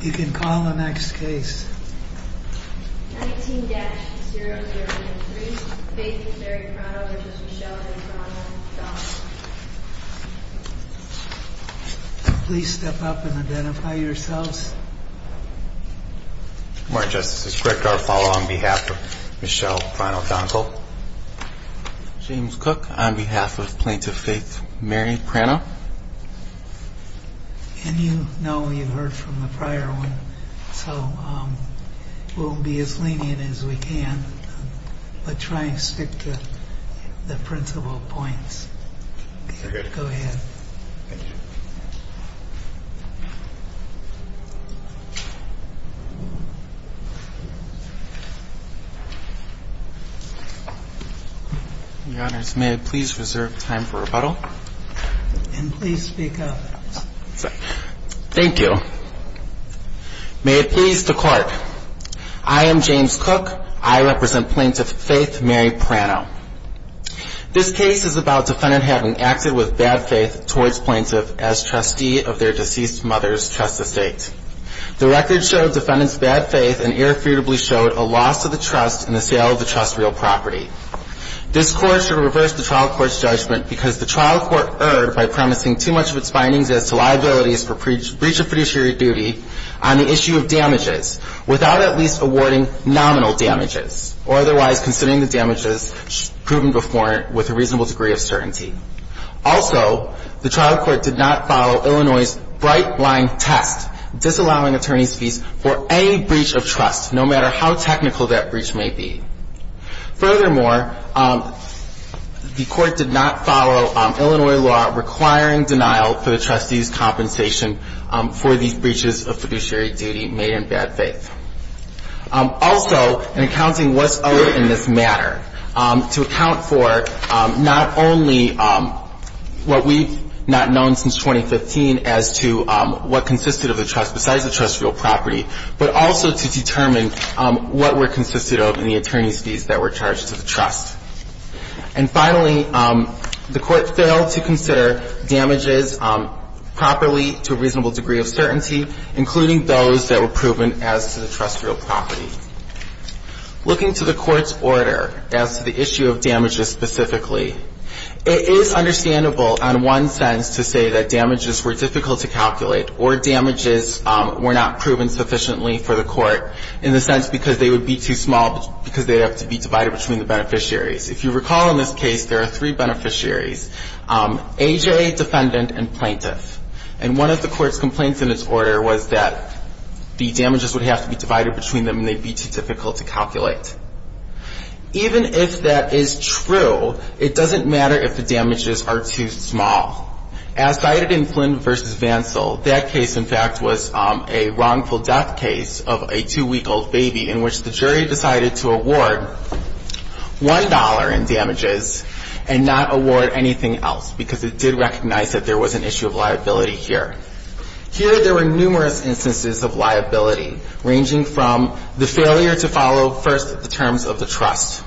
You can call the next case. 19-003, Plaintiff Mary Pranno v. Michelle A. Pranno v. Donkle Please step up and identify yourselves. Good morning, Justice. This is Greg Garfalo on behalf of Michelle Pranno Donkle. James Cook on behalf of Plaintiff Faith Mary Pranno. And you know you've heard from the prior one, so we'll be as lenient as we can, but try and stick to the principal points. Go ahead. Thank you. Your Honors, may I please reserve time for rebuttal? And please speak up. Thank you. May it please the Court, I am James Cook. I represent Plaintiff Faith Mary Pranno. This case is about defendant having acted with bad faith towards plaintiff as trustee of their deceased mother's trust estate. The record showed defendant's bad faith and irrefutably showed a loss of the trust in the sale of the trust's real property. This Court should reverse the trial court's judgment because the trial court erred by promising too much of its findings as to liabilities for breach of fiduciary duty on the issue of damages without at least awarding nominal damages or otherwise considering the damages proven before it with a reasonable degree of certainty. Also, the trial court did not follow Illinois' bright line test, disallowing attorney's fees for any breach of trust, no matter how technical that breach may be. Furthermore, the court did not follow Illinois' law requiring denial for the trustee's compensation for these breaches of fiduciary duty made in bad faith. Also, in accounting what's owed in this matter, to account for not only what we've not known since 2015 as to what consisted of the trust, but also to determine what were consisted of in the attorney's fees that were charged to the trust. And finally, the court failed to consider damages properly to a reasonable degree of certainty, including those that were proven as to the trust's real property. Looking to the Court's order as to the issue of damages specifically, it is understandable on one sense to say that damages were difficult to calculate or damages were not proven sufficiently for the court in the sense because they would be too small because they have to be divided between the beneficiaries. If you recall in this case, there are three beneficiaries, AJ, defendant, and plaintiff. And one of the court's complaints in this order was that the damages would have to be divided between them and they'd be too difficult to calculate. Even if that is true, it doesn't matter if the damages are too small. As cited in Flynn v. Vansell, that case, in fact, was a wrongful death case of a two-week-old baby in which the jury decided to award $1 in damages and not award anything else because it did recognize that there was an issue of liability here. Here, there were numerous instances of liability, ranging from the failure to follow first the terms of the trust.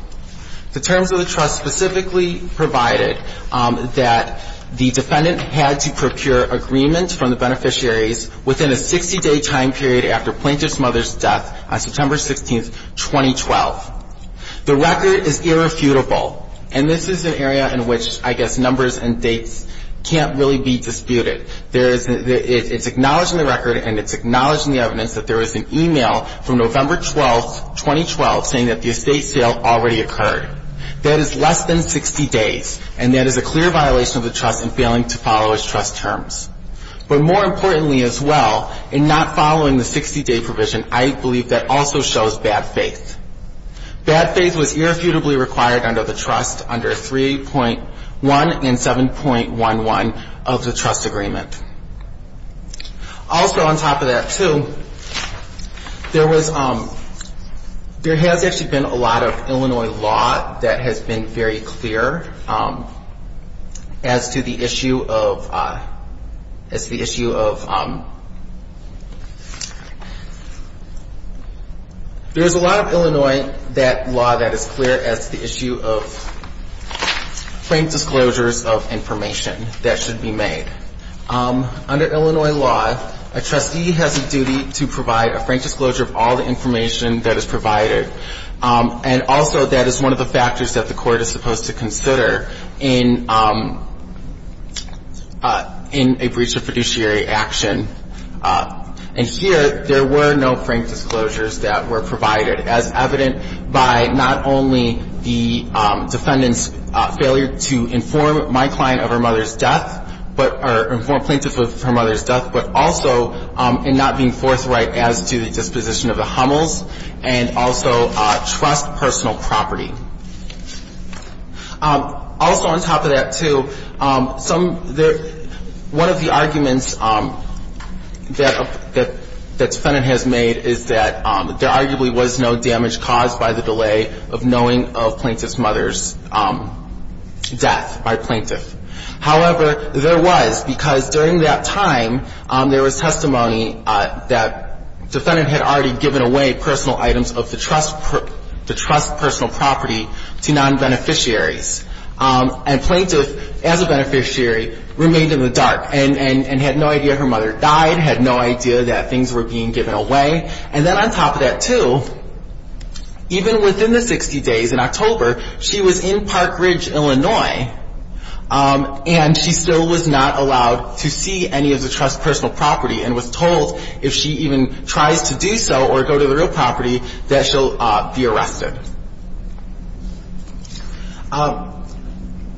The terms of the trust specifically provided that the defendant had to procure agreement from the beneficiaries within a 60-day time period after plaintiff's mother's death on September 16, 2012. The record is irrefutable. And this is an area in which, I guess, numbers and dates can't really be disputed. It's acknowledging the record and it's acknowledging the evidence that there was an e-mail from November 12, 2012, saying that the estate sale already occurred. That is less than 60 days, and that is a clear violation of the trust in failing to follow its trust terms. But more importantly as well, in not following the 60-day provision, I believe that also shows bad faith. Bad faith was irrefutably required under the trust under 3.1 and 7.11 of the trust agreement. Also on top of that, too, there has actually been a lot of Illinois law that has been very clear as to the issue of There's a lot of Illinois law that is clear as to the issue of frank disclosures of information that should be made. Under Illinois law, a trustee has a duty to provide a frank disclosure of all the information that is provided. And also, that is one of the factors that the court is supposed to consider in a breach of fiduciary action. And here, there were no frank disclosures that were provided, as evident by not only the defendant's failure to inform my client of her mother's death, or inform plaintiff of her mother's death, but also in not being forthright as to the disposition of the Hummels, and also trust personal property. Also on top of that, too, one of the arguments that the defendant has made is that there arguably was no damage caused by the delay of knowing of plaintiff's mother's death by plaintiff. However, there was, because during that time, there was testimony that defendant had already given away personal items of the trust personal property to non-beneficiaries. And plaintiff, as a beneficiary, remained in the dark and had no idea her mother died, had no idea that things were being given away. And then on top of that, too, even within the 60 days, in October, she was in Park Ridge, Illinois, and she still was not allowed to see any of the trust personal property and was told if she even tries to do so or go to the real property, that she'll be arrested.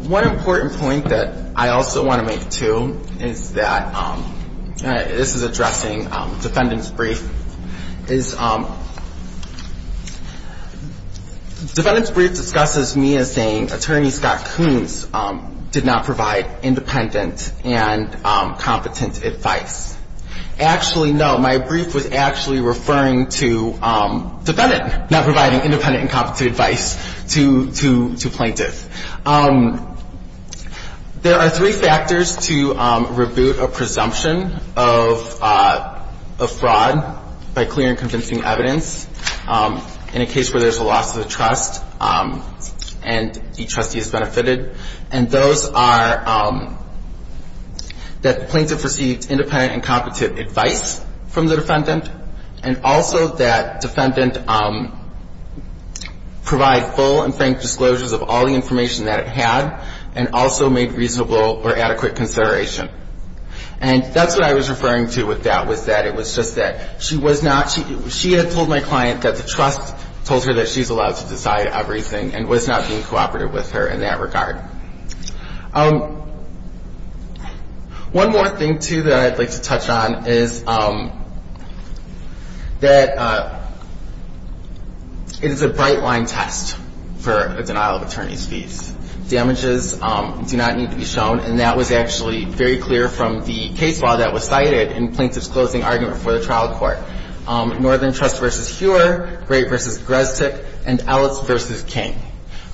One important point that I also want to make, too, is that this is addressing defendant's brief. Defendant's brief discusses me as saying, attorney Scott Coons did not provide independent and competent advice. Actually, no, my brief was actually referring to defendant not providing independent and competent advice to plaintiff. There are three factors to rebuke a presumption of fraud by claimants. One is clear and convincing evidence in a case where there's a loss of the trust and the trustee has benefited. And those are that plaintiff received independent and competent advice from the defendant and also that defendant provide full and frank disclosures of all the information that it had and also made reasonable or adequate consideration. And that's what I was referring to with that, was that it was just that she was not, she had told my client that the trust told her that she's allowed to decide everything and was not being cooperative with her in that regard. One more thing, too, that I'd like to touch on is that it is a bright line test for a denial of attorney's fees. Damages do not need to be shown, and that was actually very clear from the case law that was cited in plaintiff's closing argument for the trial court. Northern Trust v. Huer, Grape v. Grestick, and Ellis v. King.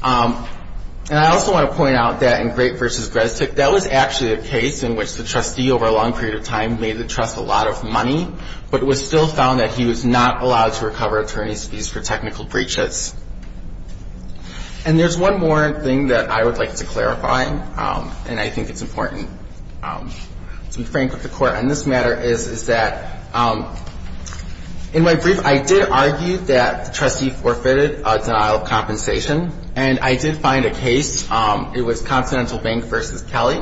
And I also want to point out that in Grape v. Grestick, that was actually a case in which the trustee over a long period of time made the trust a lot of money, but it was still found that he was not allowed to recover attorney's fees for technical breaches. And there's one more thing that I would like to clarify, and I think it's important to be frank with the court on this matter, is that in my brief, I did argue that the trustee forfeited a denial of compensation. And I did find a case, it was Continental Bank v. Kelly.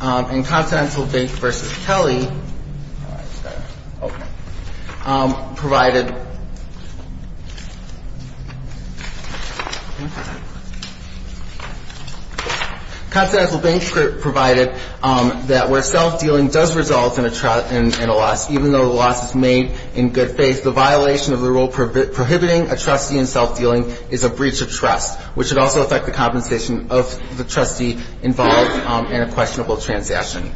And Continental Bank v. Kelly provided a denial of compensation, and I did find a case in which the trustee forfeited a denial of compensation, and I did find a case, it was Continental Bank v. Kelly. Continental Bank provided that where self-dealing does result in a loss, even though the loss is made in good faith, the violation of the rule prohibiting a trustee in self-dealing is a breach of trust, which would also affect the compensation of the trustee involved in a questionable transaction.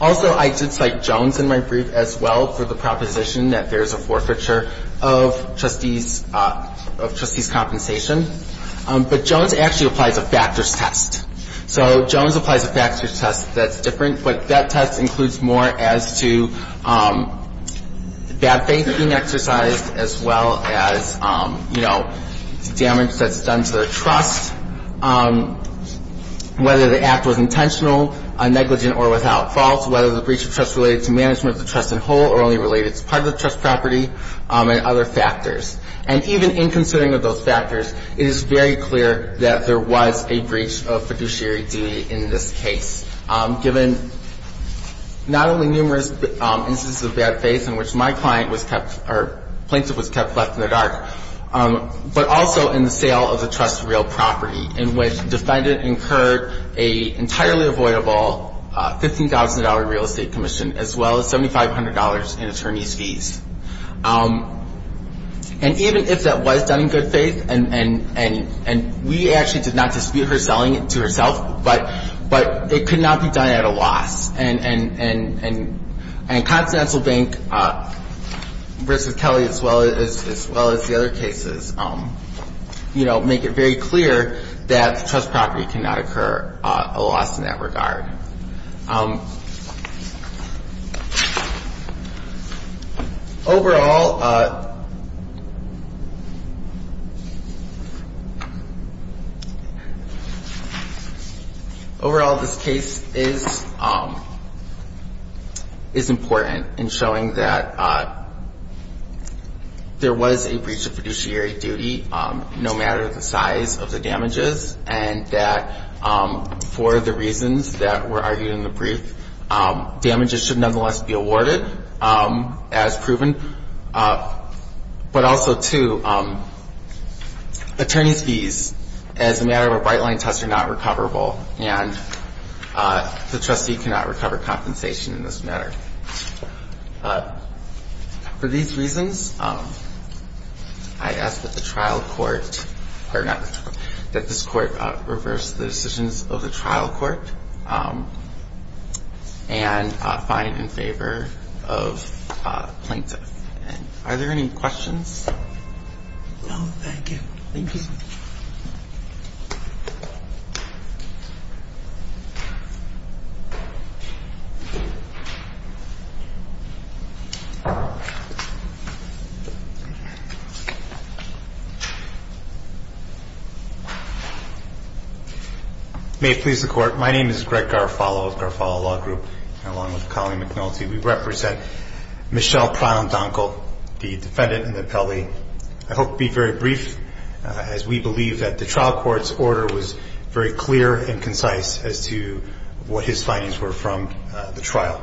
Also, I did cite Jones in my brief as well for the proposition that there's a forfeiture of trustees' compensation. But Jones actually applies a factors test. So Jones applies a factors test that's different, but that test includes more as to bad faith being exercised as well as, you know, damage that's done to the trust, whether the act was intentional, negligent, or without fault, whether the breach of trust related to management of the trust in whole or only related to part of the trust property, and other factors. And even in considering of those factors, it is very clear that there was a breach of fiduciary duty in this case, given not only numerous instances of bad faith in which my client was kept or plaintiff was kept left in the dark, but also in the sale of the trust's real property in which defendant incurred an entirely avoidable $15,000 real estate commission as well as $7,500 in attorney's fees. And even if that was done in good faith, and we actually did not dispute her selling it to herself, but it could not be done at a loss. And Continental Bank versus Kelly as well as the other cases, you know, make it very clear that the trust property cannot occur at a loss in that regard. Overall, this case is important in showing that there was a breach of fiduciary duty, no matter the size of the damages, and that for the reasons that were argued in the brief, damages should nonetheless be awarded as proven. But also, too, attorney's fees as a matter of a bright-line test are not recoverable, and the trustee cannot recover compensation in this matter. For these reasons, I ask that the trial court, or not, that this court reverse the decisions of the trial court and find in favor of plaintiff. Are there any questions? No, thank you. Thank you. May it please the court. My name is Greg Garofalo of Garofalo Law Group, and along with Colleen McNulty, we represent Michelle Pround-Donkel, the defendant in the appellee. I hope to be very brief, as we believe that the trial court's order was very clear and concise as to what his findings were from the trial.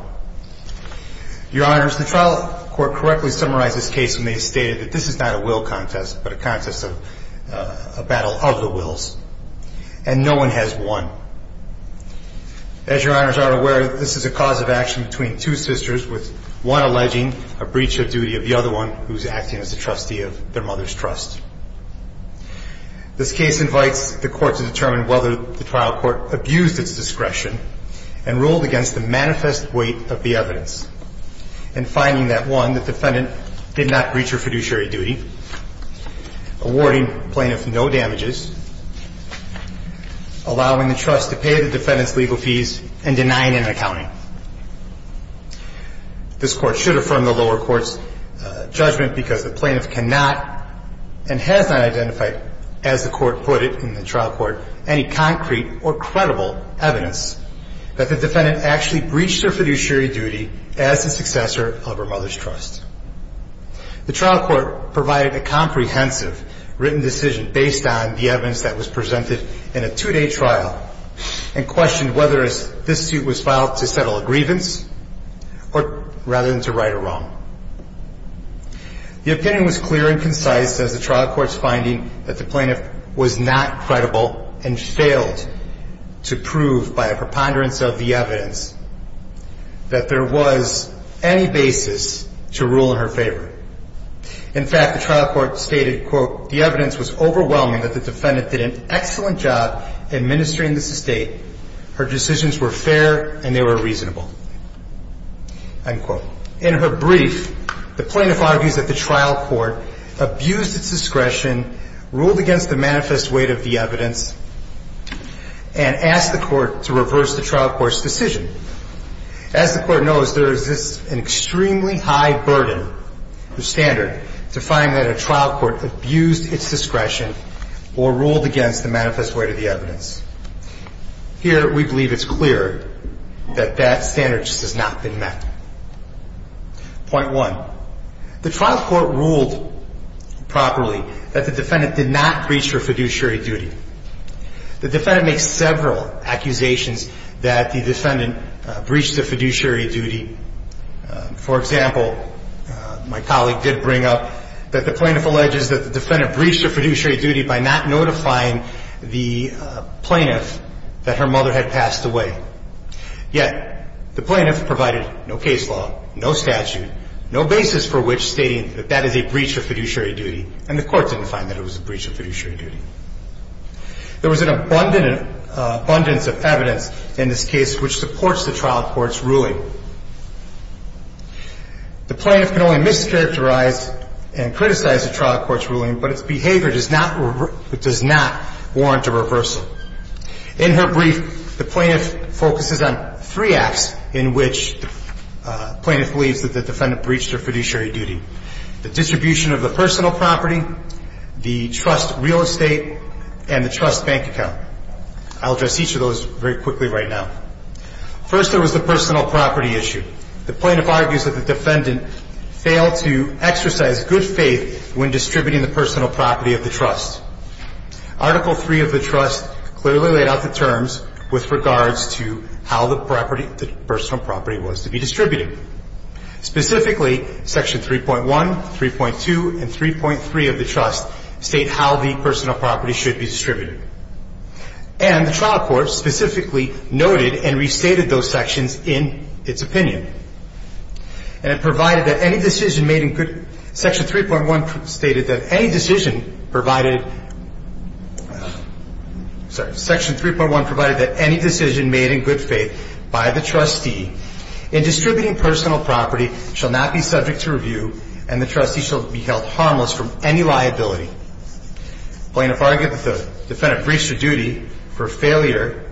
Your Honors, the trial court correctly summarized this case when they stated that this is not a will contest, but a contest of a battle of the wills. And no one has won. As Your Honors are aware, this is a cause of action between two sisters, with one alleging a breach of duty of the other one, who is acting as a trustee of their mother's trust. This case invites the court to determine whether the trial court abused its discretion and ruled against the manifest weight of the evidence. And finding that, one, the defendant did not breach her fiduciary duty, awarding plaintiff no damages, allowing the trust to pay the defendant's legal fees, and denying an accounting. This court should affirm the lower court's judgment because the plaintiff cannot and has not identified, as the court put it in the trial court, any concrete or credible evidence that the defendant actually breached her fiduciary duty as a successor of her mother's trust. The trial court provided a comprehensive written decision based on the evidence that was presented in a two-day trial and questioned whether this suit was filed to settle a grievance or rather than to right a wrong. The opinion was clear and concise as the trial court's finding that the plaintiff was not credible and failed to prove by a preponderance of the evidence that there was any basis to rule in her favor. In fact, the trial court stated, quote, the evidence was overwhelming that the defendant did an excellent job administering this estate. Her decisions were fair and they were reasonable, end quote. In her brief, the plaintiff argues that the trial court abused its discretion, ruled against the manifest weight of the evidence, and asked the court to reverse the trial court's decision. As the court knows, there exists an extremely high burden or standard to find that a trial court abused its discretion or ruled against the manifest weight of the evidence. Here, we believe it's clear that that standard just has not been met. Point one, the trial court ruled properly that the defendant did not breach her fiduciary duty. The defendant makes several accusations that the defendant breached the fiduciary duty. For example, my colleague did bring up that the plaintiff alleges that the defendant breached her fiduciary duty by not notifying the plaintiff that her mother had passed away. Yet, the plaintiff provided no case law, no statute, no basis for which stating that that is a breach of fiduciary duty, and the court didn't find that it was a breach of fiduciary duty. There was an abundance of evidence in this case which supports the trial court's ruling. The plaintiff can only mischaracterize and criticize the trial court's ruling, but its behavior does not warrant a reversal. In her brief, the plaintiff focuses on three acts in which the plaintiff believes that the defendant breached her fiduciary duty, the distribution of the personal property, the trust real estate, and the trust bank account. I'll address each of those very quickly right now. First, there was the personal property issue. The plaintiff argues that the defendant failed to exercise good faith when distributing the personal property of the trust. Article III of the trust clearly laid out the terms with regards to how the property, the personal property was to be distributed. Specifically, Section 3.1, 3.2, and 3.3 of the trust state how the personal property should be distributed. And the trial court specifically noted and restated those sections in its opinion. And it provided that any decision made in good, Section 3.1 stated that any decision provided, sorry, Section 3.1 provided that any decision made in good faith by the trustee in distributing personal property shall not be subject to review and the trustee shall be held harmless from any liability. The plaintiff argued that the defendant breached her duty for failure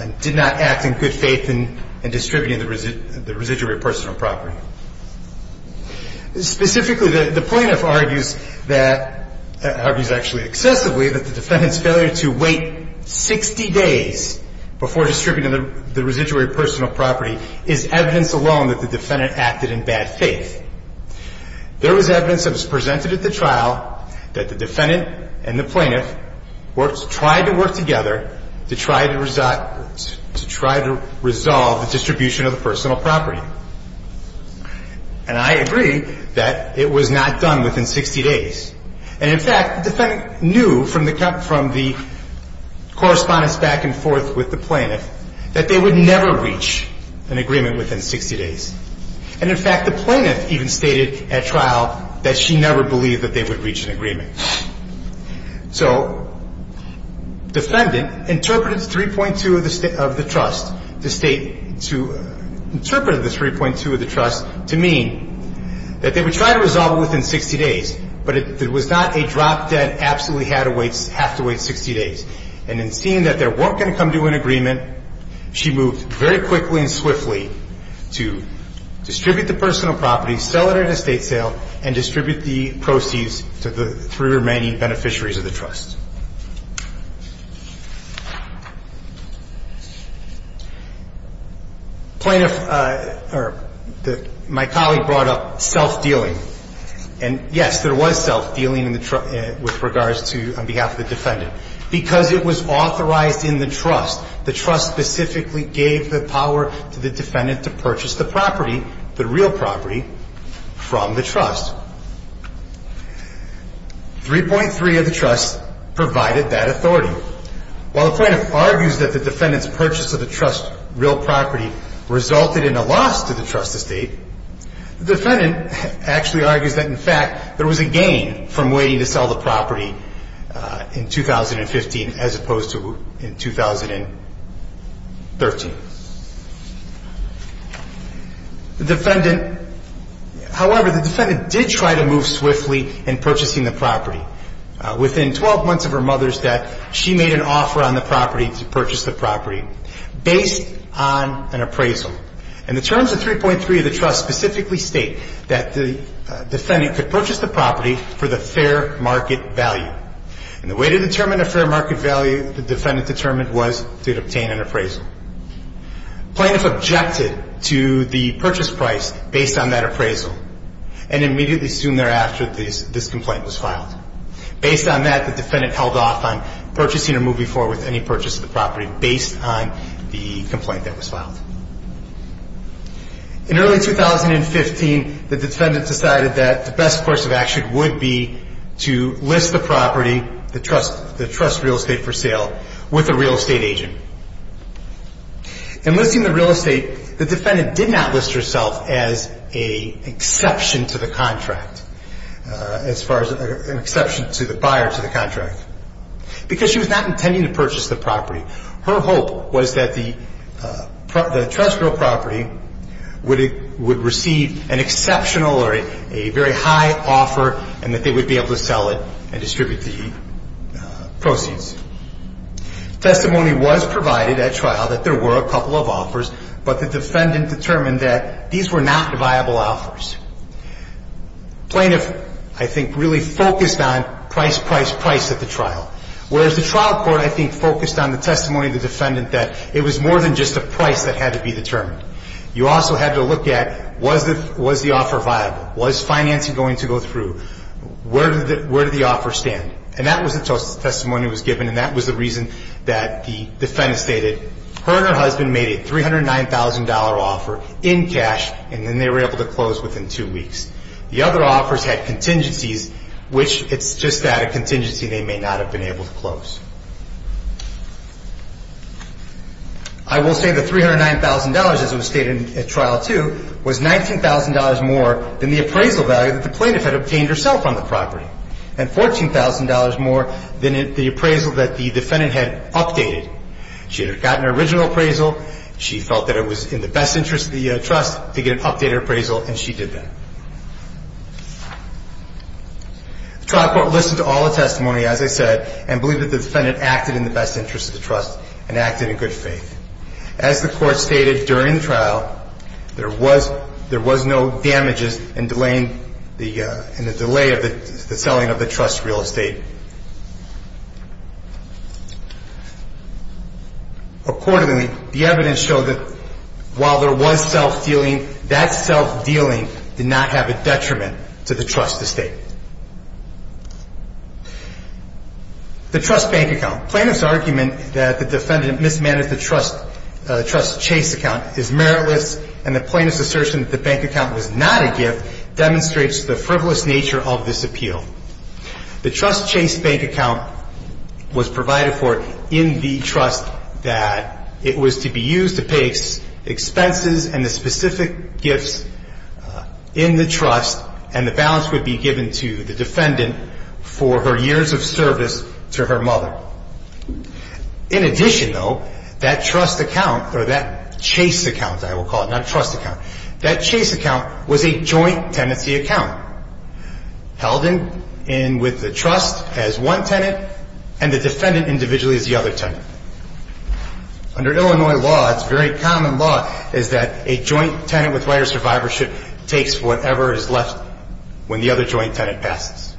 and did not act in good faith in distributing the residuary personal property. Specifically, the plaintiff argues that, argues actually excessively, that the defendant's failure to wait 60 days before distributing the residuary personal property is evidence alone that the defendant acted in bad faith. There was evidence that was presented at the trial that the defendant and the plaintiff tried to work together to try to resolve the distribution of the personal property. And I agree that it was not done within 60 days. And, in fact, the defendant knew from the correspondence back and forth with the plaintiff that they would never reach an agreement within 60 days. And, in fact, the plaintiff even stated at trial that she never believed that they would reach an agreement. So defendant interpreted 3.2 of the trust to state, to interpret the 3.2 of the trust to mean that they would try to resolve it within 60 days, but it was not a drop that absolutely had to wait, have to wait 60 days. And in seeing that they weren't going to come to an agreement, she moved very quickly and swiftly to distribute the personal property, sell it at an estate sale, and distribute the proceeds to the three remaining beneficiaries of the trust. Plaintiff, or my colleague brought up self-dealing. And, yes, there was self-dealing with regards to, on behalf of the defendant. Because it was authorized in the trust. The trust specifically gave the power to the defendant to purchase the property, the real property, from the trust. 3.3 of the trust provided that authority. While the plaintiff argues that the defendant's purchase of the trust's real property resulted in a loss to the trust estate, the defendant actually argues that, in fact, there was a gain from waiting to sell the property in 2015 as opposed to in 2013. The defendant, however, the defendant did try to move swiftly in purchasing the property. Within 12 months of her mother's death, she made an offer on the property to purchase the property based on an appraisal. And the terms of 3.3 of the trust specifically state that the defendant could purchase the property for the fair market value. And the way to determine a fair market value, the defendant determined, was to obtain an appraisal. Plaintiff objected to the purchase price based on that appraisal. And immediately soon thereafter, this complaint was filed. Based on that, the defendant held off on purchasing or moving forward with any purchase of the property based on the complaint that was filed. In early 2015, the defendant decided that the best course of action would be to list the property, the trust real estate for sale, with a real estate agent. In listing the real estate, the defendant did not list herself as an exception to the contract. As far as an exception to the buyer to the contract. Because she was not intending to purchase the property. Her hope was that the trust real property would receive an exceptional or a very high offer and that they would be able to sell it and distribute the proceeds. Testimony was provided at trial that there were a couple of offers, but the defendant determined that these were not viable offers. Plaintiff, I think, really focused on price, price, price at the trial. Whereas the trial court, I think, focused on the testimony of the defendant that it was more than just a price that had to be determined. You also had to look at, was the offer viable? Was financing going to go through? Where did the offer stand? And that was the testimony that was given and that was the reason that the defendant stated, her and her husband made a $309,000 offer in cash and then they were able to close within two weeks. The other offers had contingencies, which it's just that, a contingency they may not have been able to close. I will say the $309,000, as it was stated at trial too, was $19,000 more than the appraisal value that the plaintiff had obtained herself on the property. And $14,000 more than the appraisal that the defendant had updated. She had gotten her original appraisal. She felt that it was in the best interest of the trust to get an updated appraisal and she did that. The trial court listened to all the testimony, as I said, and believed that the defendant acted in the best interest of the trust and acted in good faith. As the court stated during the trial, there was no damages in delaying the selling of the trust's real estate. Accordingly, the evidence showed that while there was self-dealing, that self-dealing did not have a detriment to the trust's estate. The trust bank account. Plaintiff's argument that the defendant mismanaged the trust's Chase account is meritless and the plaintiff's assertion that the bank account was not a gift demonstrates the frivolous nature of this appeal. The trust Chase bank account was provided for in the trust that it was to be used to pay its expenses and the specific gifts in the trust and the balance would be given to the defendant for her years of service to her mother. In addition, though, that trust account, or that Chase account, I will call it, not trust account, that Chase account was a joint tenancy account held in with the trust as one tenant and the defendant individually as the other tenant. Under Illinois law, it's very common law, is that a joint tenant with right of survivorship takes whatever is left when the other joint tenant passes.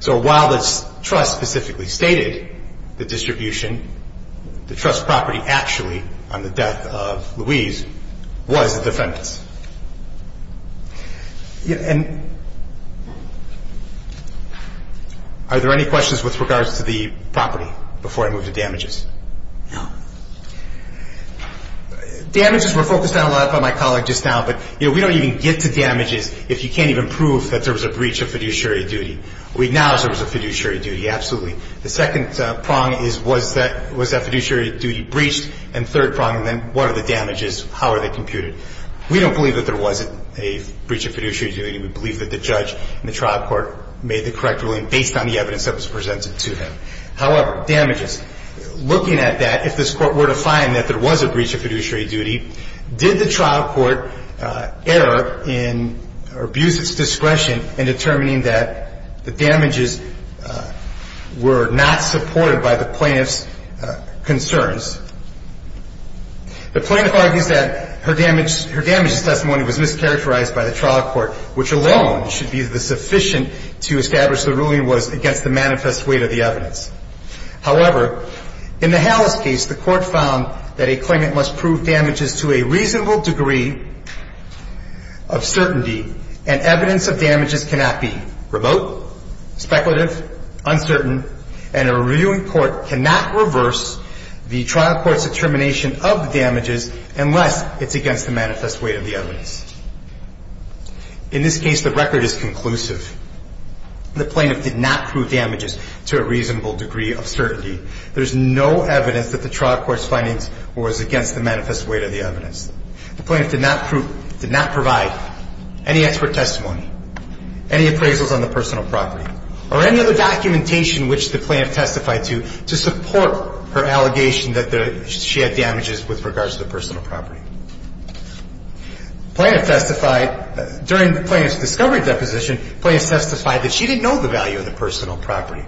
So while the trust specifically stated the distribution, the trust property actually, on the death of Louise, was the defendant's. And are there any questions with regards to the property before I move to damages? No. Damages were focused on a lot by my colleague just now, but we don't even get to damages if you can't even prove that there was a breach of fiduciary duty. We acknowledge there was a fiduciary duty, absolutely. The second prong is was that fiduciary duty breached? And third prong, then what are the damages? How are they computed? We don't believe that there wasn't a breach of fiduciary duty. We believe that the judge in the trial court made the correct ruling based on the evidence that was presented to him. However, damages, looking at that, if this court were to find that there was a breach of fiduciary duty, did the trial court err or abuse its discretion in determining that the damages were not supported by the plaintiff's concerns? The plaintiff argues that her damages testimony was mischaracterized by the trial court, which alone should be sufficient to establish the ruling was against the manifest weight of the evidence. However, in the Halas case, the court found that a claimant must prove damages to a reasonable degree of certainty, and evidence of damages cannot be remote, speculative, uncertain, and a reviewing court cannot reverse the trial court's determination of the damages unless it's against the manifest weight of the evidence. In this case, the record is conclusive. The plaintiff did not prove damages to a reasonable degree of certainty. There's no evidence that the trial court's findings was against the manifest weight of the evidence. The plaintiff did not provide any expert testimony, any appraisals on the personal property, or any other documentation which the plaintiff testified to to support her allegation that she had damages with regards to the personal property. During the plaintiff's discovery deposition, the plaintiff testified that she didn't know the value of the personal property.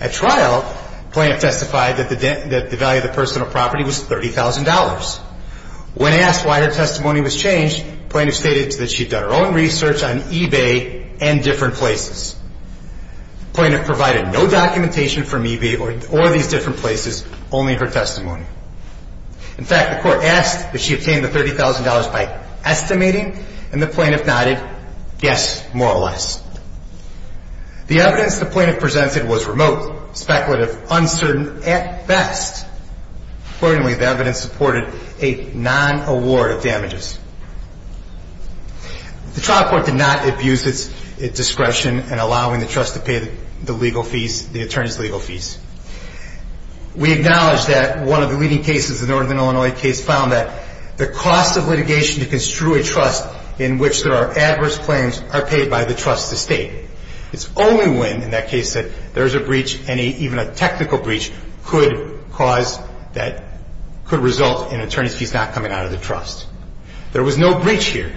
At trial, the plaintiff testified that the value of the personal property was $30,000. When asked why her testimony was changed, the plaintiff stated that she'd done her own research on eBay and different places. The plaintiff provided no documentation from eBay or these different places, only her testimony. In fact, the court asked if she obtained the $30,000 by estimating, and the plaintiff nodded, yes, more or less. The evidence the plaintiff presented was remote, speculative, uncertain, at best. Accordingly, the evidence supported a non-award of damages. The trial court did not abuse its discretion in allowing the trust to pay the legal fees, the attorney's legal fees. We acknowledge that one of the leading cases, the Northern Illinois case, found that the cost of litigation to construe a trust in which there are adverse claims are paid by the trust to state. It's only when, in that case, there's a breach, even a technical breach, could result in attorney's fees not coming out of the trust. There was no breach here.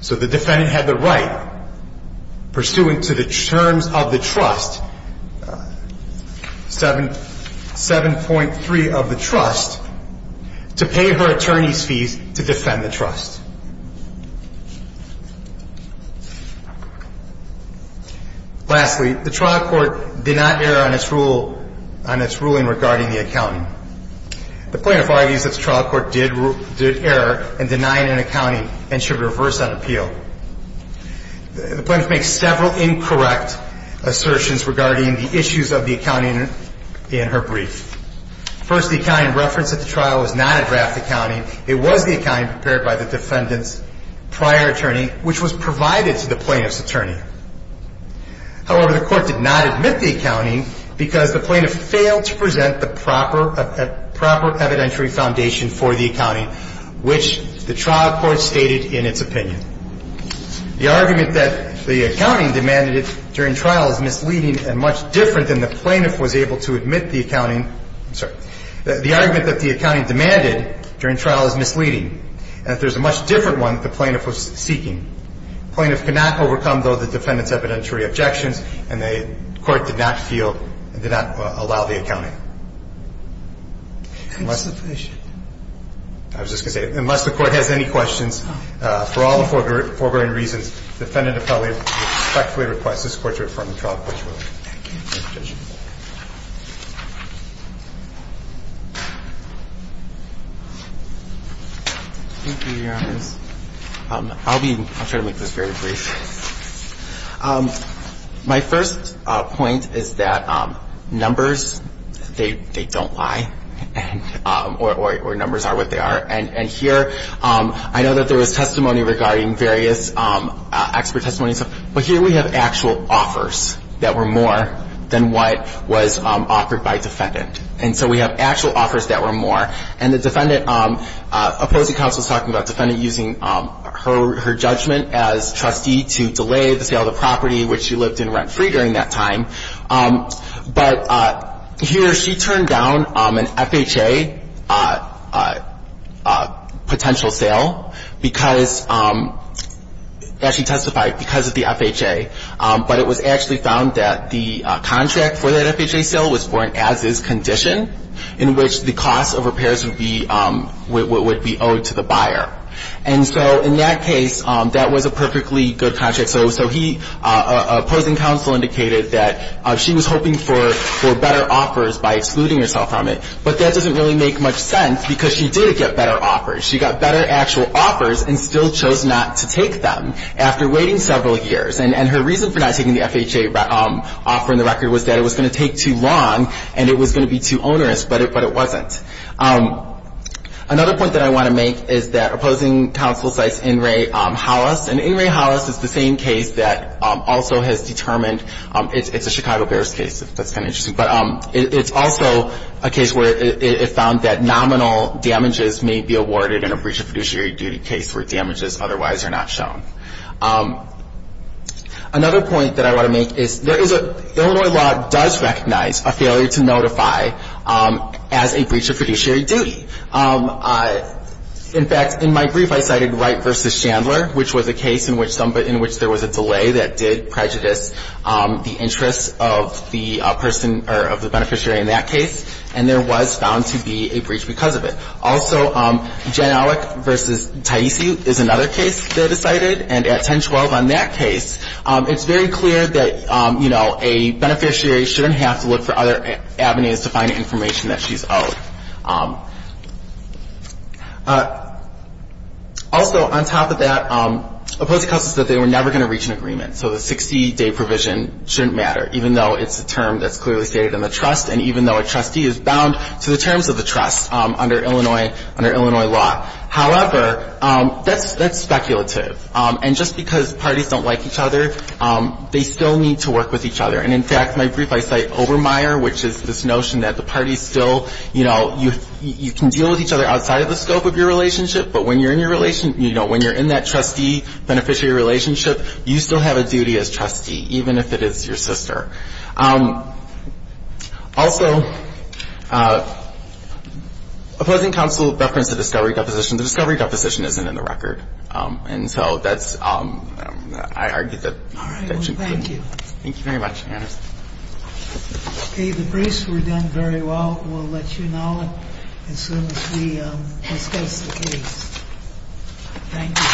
So the defendant had the right, pursuant to the terms of the trust, 7.3 of the trust, to pay her attorney's fees to defend the trust. Lastly, the trial court did not err on its rule, on its ruling regarding the accountant. The plaintiff argues that the trial court did err in denying an accounting and should reverse that appeal. The plaintiff makes several incorrect assertions regarding the issues of the accounting in her brief. First, the accounting referenced at the trial was not a draft accounting. It was the accounting prepared by the defendant's prior attorney, which was provided to the plaintiff's attorney. However, the court did not admit the accounting because the plaintiff failed to present the proper evidentiary foundation for the accounting, which the trial court stated in its opinion. The argument that the accounting demanded during trial is misleading and much different than the plaintiff was able to admit the accounting. The argument that the accounting demanded during trial is misleading. And if there's a much different one, the plaintiff was seeking. The plaintiff cannot overcome, though, the defendant's evidentiary objections, and the court did not feel, did not allow the accounting. I was just going to say, unless the Court has any questions, for all the foregoing reasons, the defendant will respectfully request this Court to affirm the trial court's ruling. Thank you. I'll try to make this very brief. My first point is that numbers, they don't lie, or numbers are what they are. And here, I know that there was testimony regarding various expert testimonies, but here we have actual offers that were more than what was offered by defendant. And so we have actual offers that were more. And the defendant, opposing counsel is talking about defendant using her judgment as trustee to delay the sale of the property, which she lived in rent-free during that time. But here, she turned down an FHA potential sale because, as she testified, because of the FHA. But it was actually found that the contract for that FHA sale was for an as-is condition, in which the cost of repairs would be owed to the buyer. And so in that case, that was a perfectly good contract. So he, opposing counsel, indicated that she was hoping for better offers by excluding herself from it. But that doesn't really make much sense, because she did get better offers. She got better actual offers and still chose not to take them after waiting several years. And her reason for not taking the FHA offer on the record was that it was going to take too long and it was going to be too onerous, but it wasn't. Another point that I want to make is that opposing counsel cites In re Hollis. And In re Hollis is the same case that also has determined – it's a Chicago Bears case. That's kind of interesting. But it's also a case where it found that nominal damages may be awarded in a breach of fiduciary duty case where damages otherwise are not shown. Another point that I want to make is Illinois law does recognize a failure to notify as a breach of fiduciary duty. In fact, in my brief, I cited Wright v. Chandler, which was a case in which there was a delay that did prejudice the interests of the beneficiary in that case. And there was found to be a breach because of it. Also, Jan Alec v. Taisi is another case that is cited. And at 1012 on that case, it's very clear that, you know, a beneficiary shouldn't have to look for other avenues to find information that she's owed. Also, on top of that, opposing counsel said they were never going to reach an agreement. So the 60-day provision shouldn't matter, even though it's a term that's clearly stated in the trust and even though a trustee is bound to the terms of the trust under Illinois law. However, that's speculative. And just because parties don't like each other, they still need to work with each other. And in fact, in my brief, I cite Obermeier, which is this notion that the parties still, you know, you can deal with each other outside of the scope of your relationship, but when you're in that trustee-beneficiary relationship, you still have a duty as trustee, even if it is your sister. Also, opposing counsel referenced the discovery deposition. The discovery deposition isn't in the record. And so that's why I argued that that shouldn't matter. Thank you. Thank you very much. Okay. The briefs were done very well. We'll let you know as soon as we discuss the case. Thank you.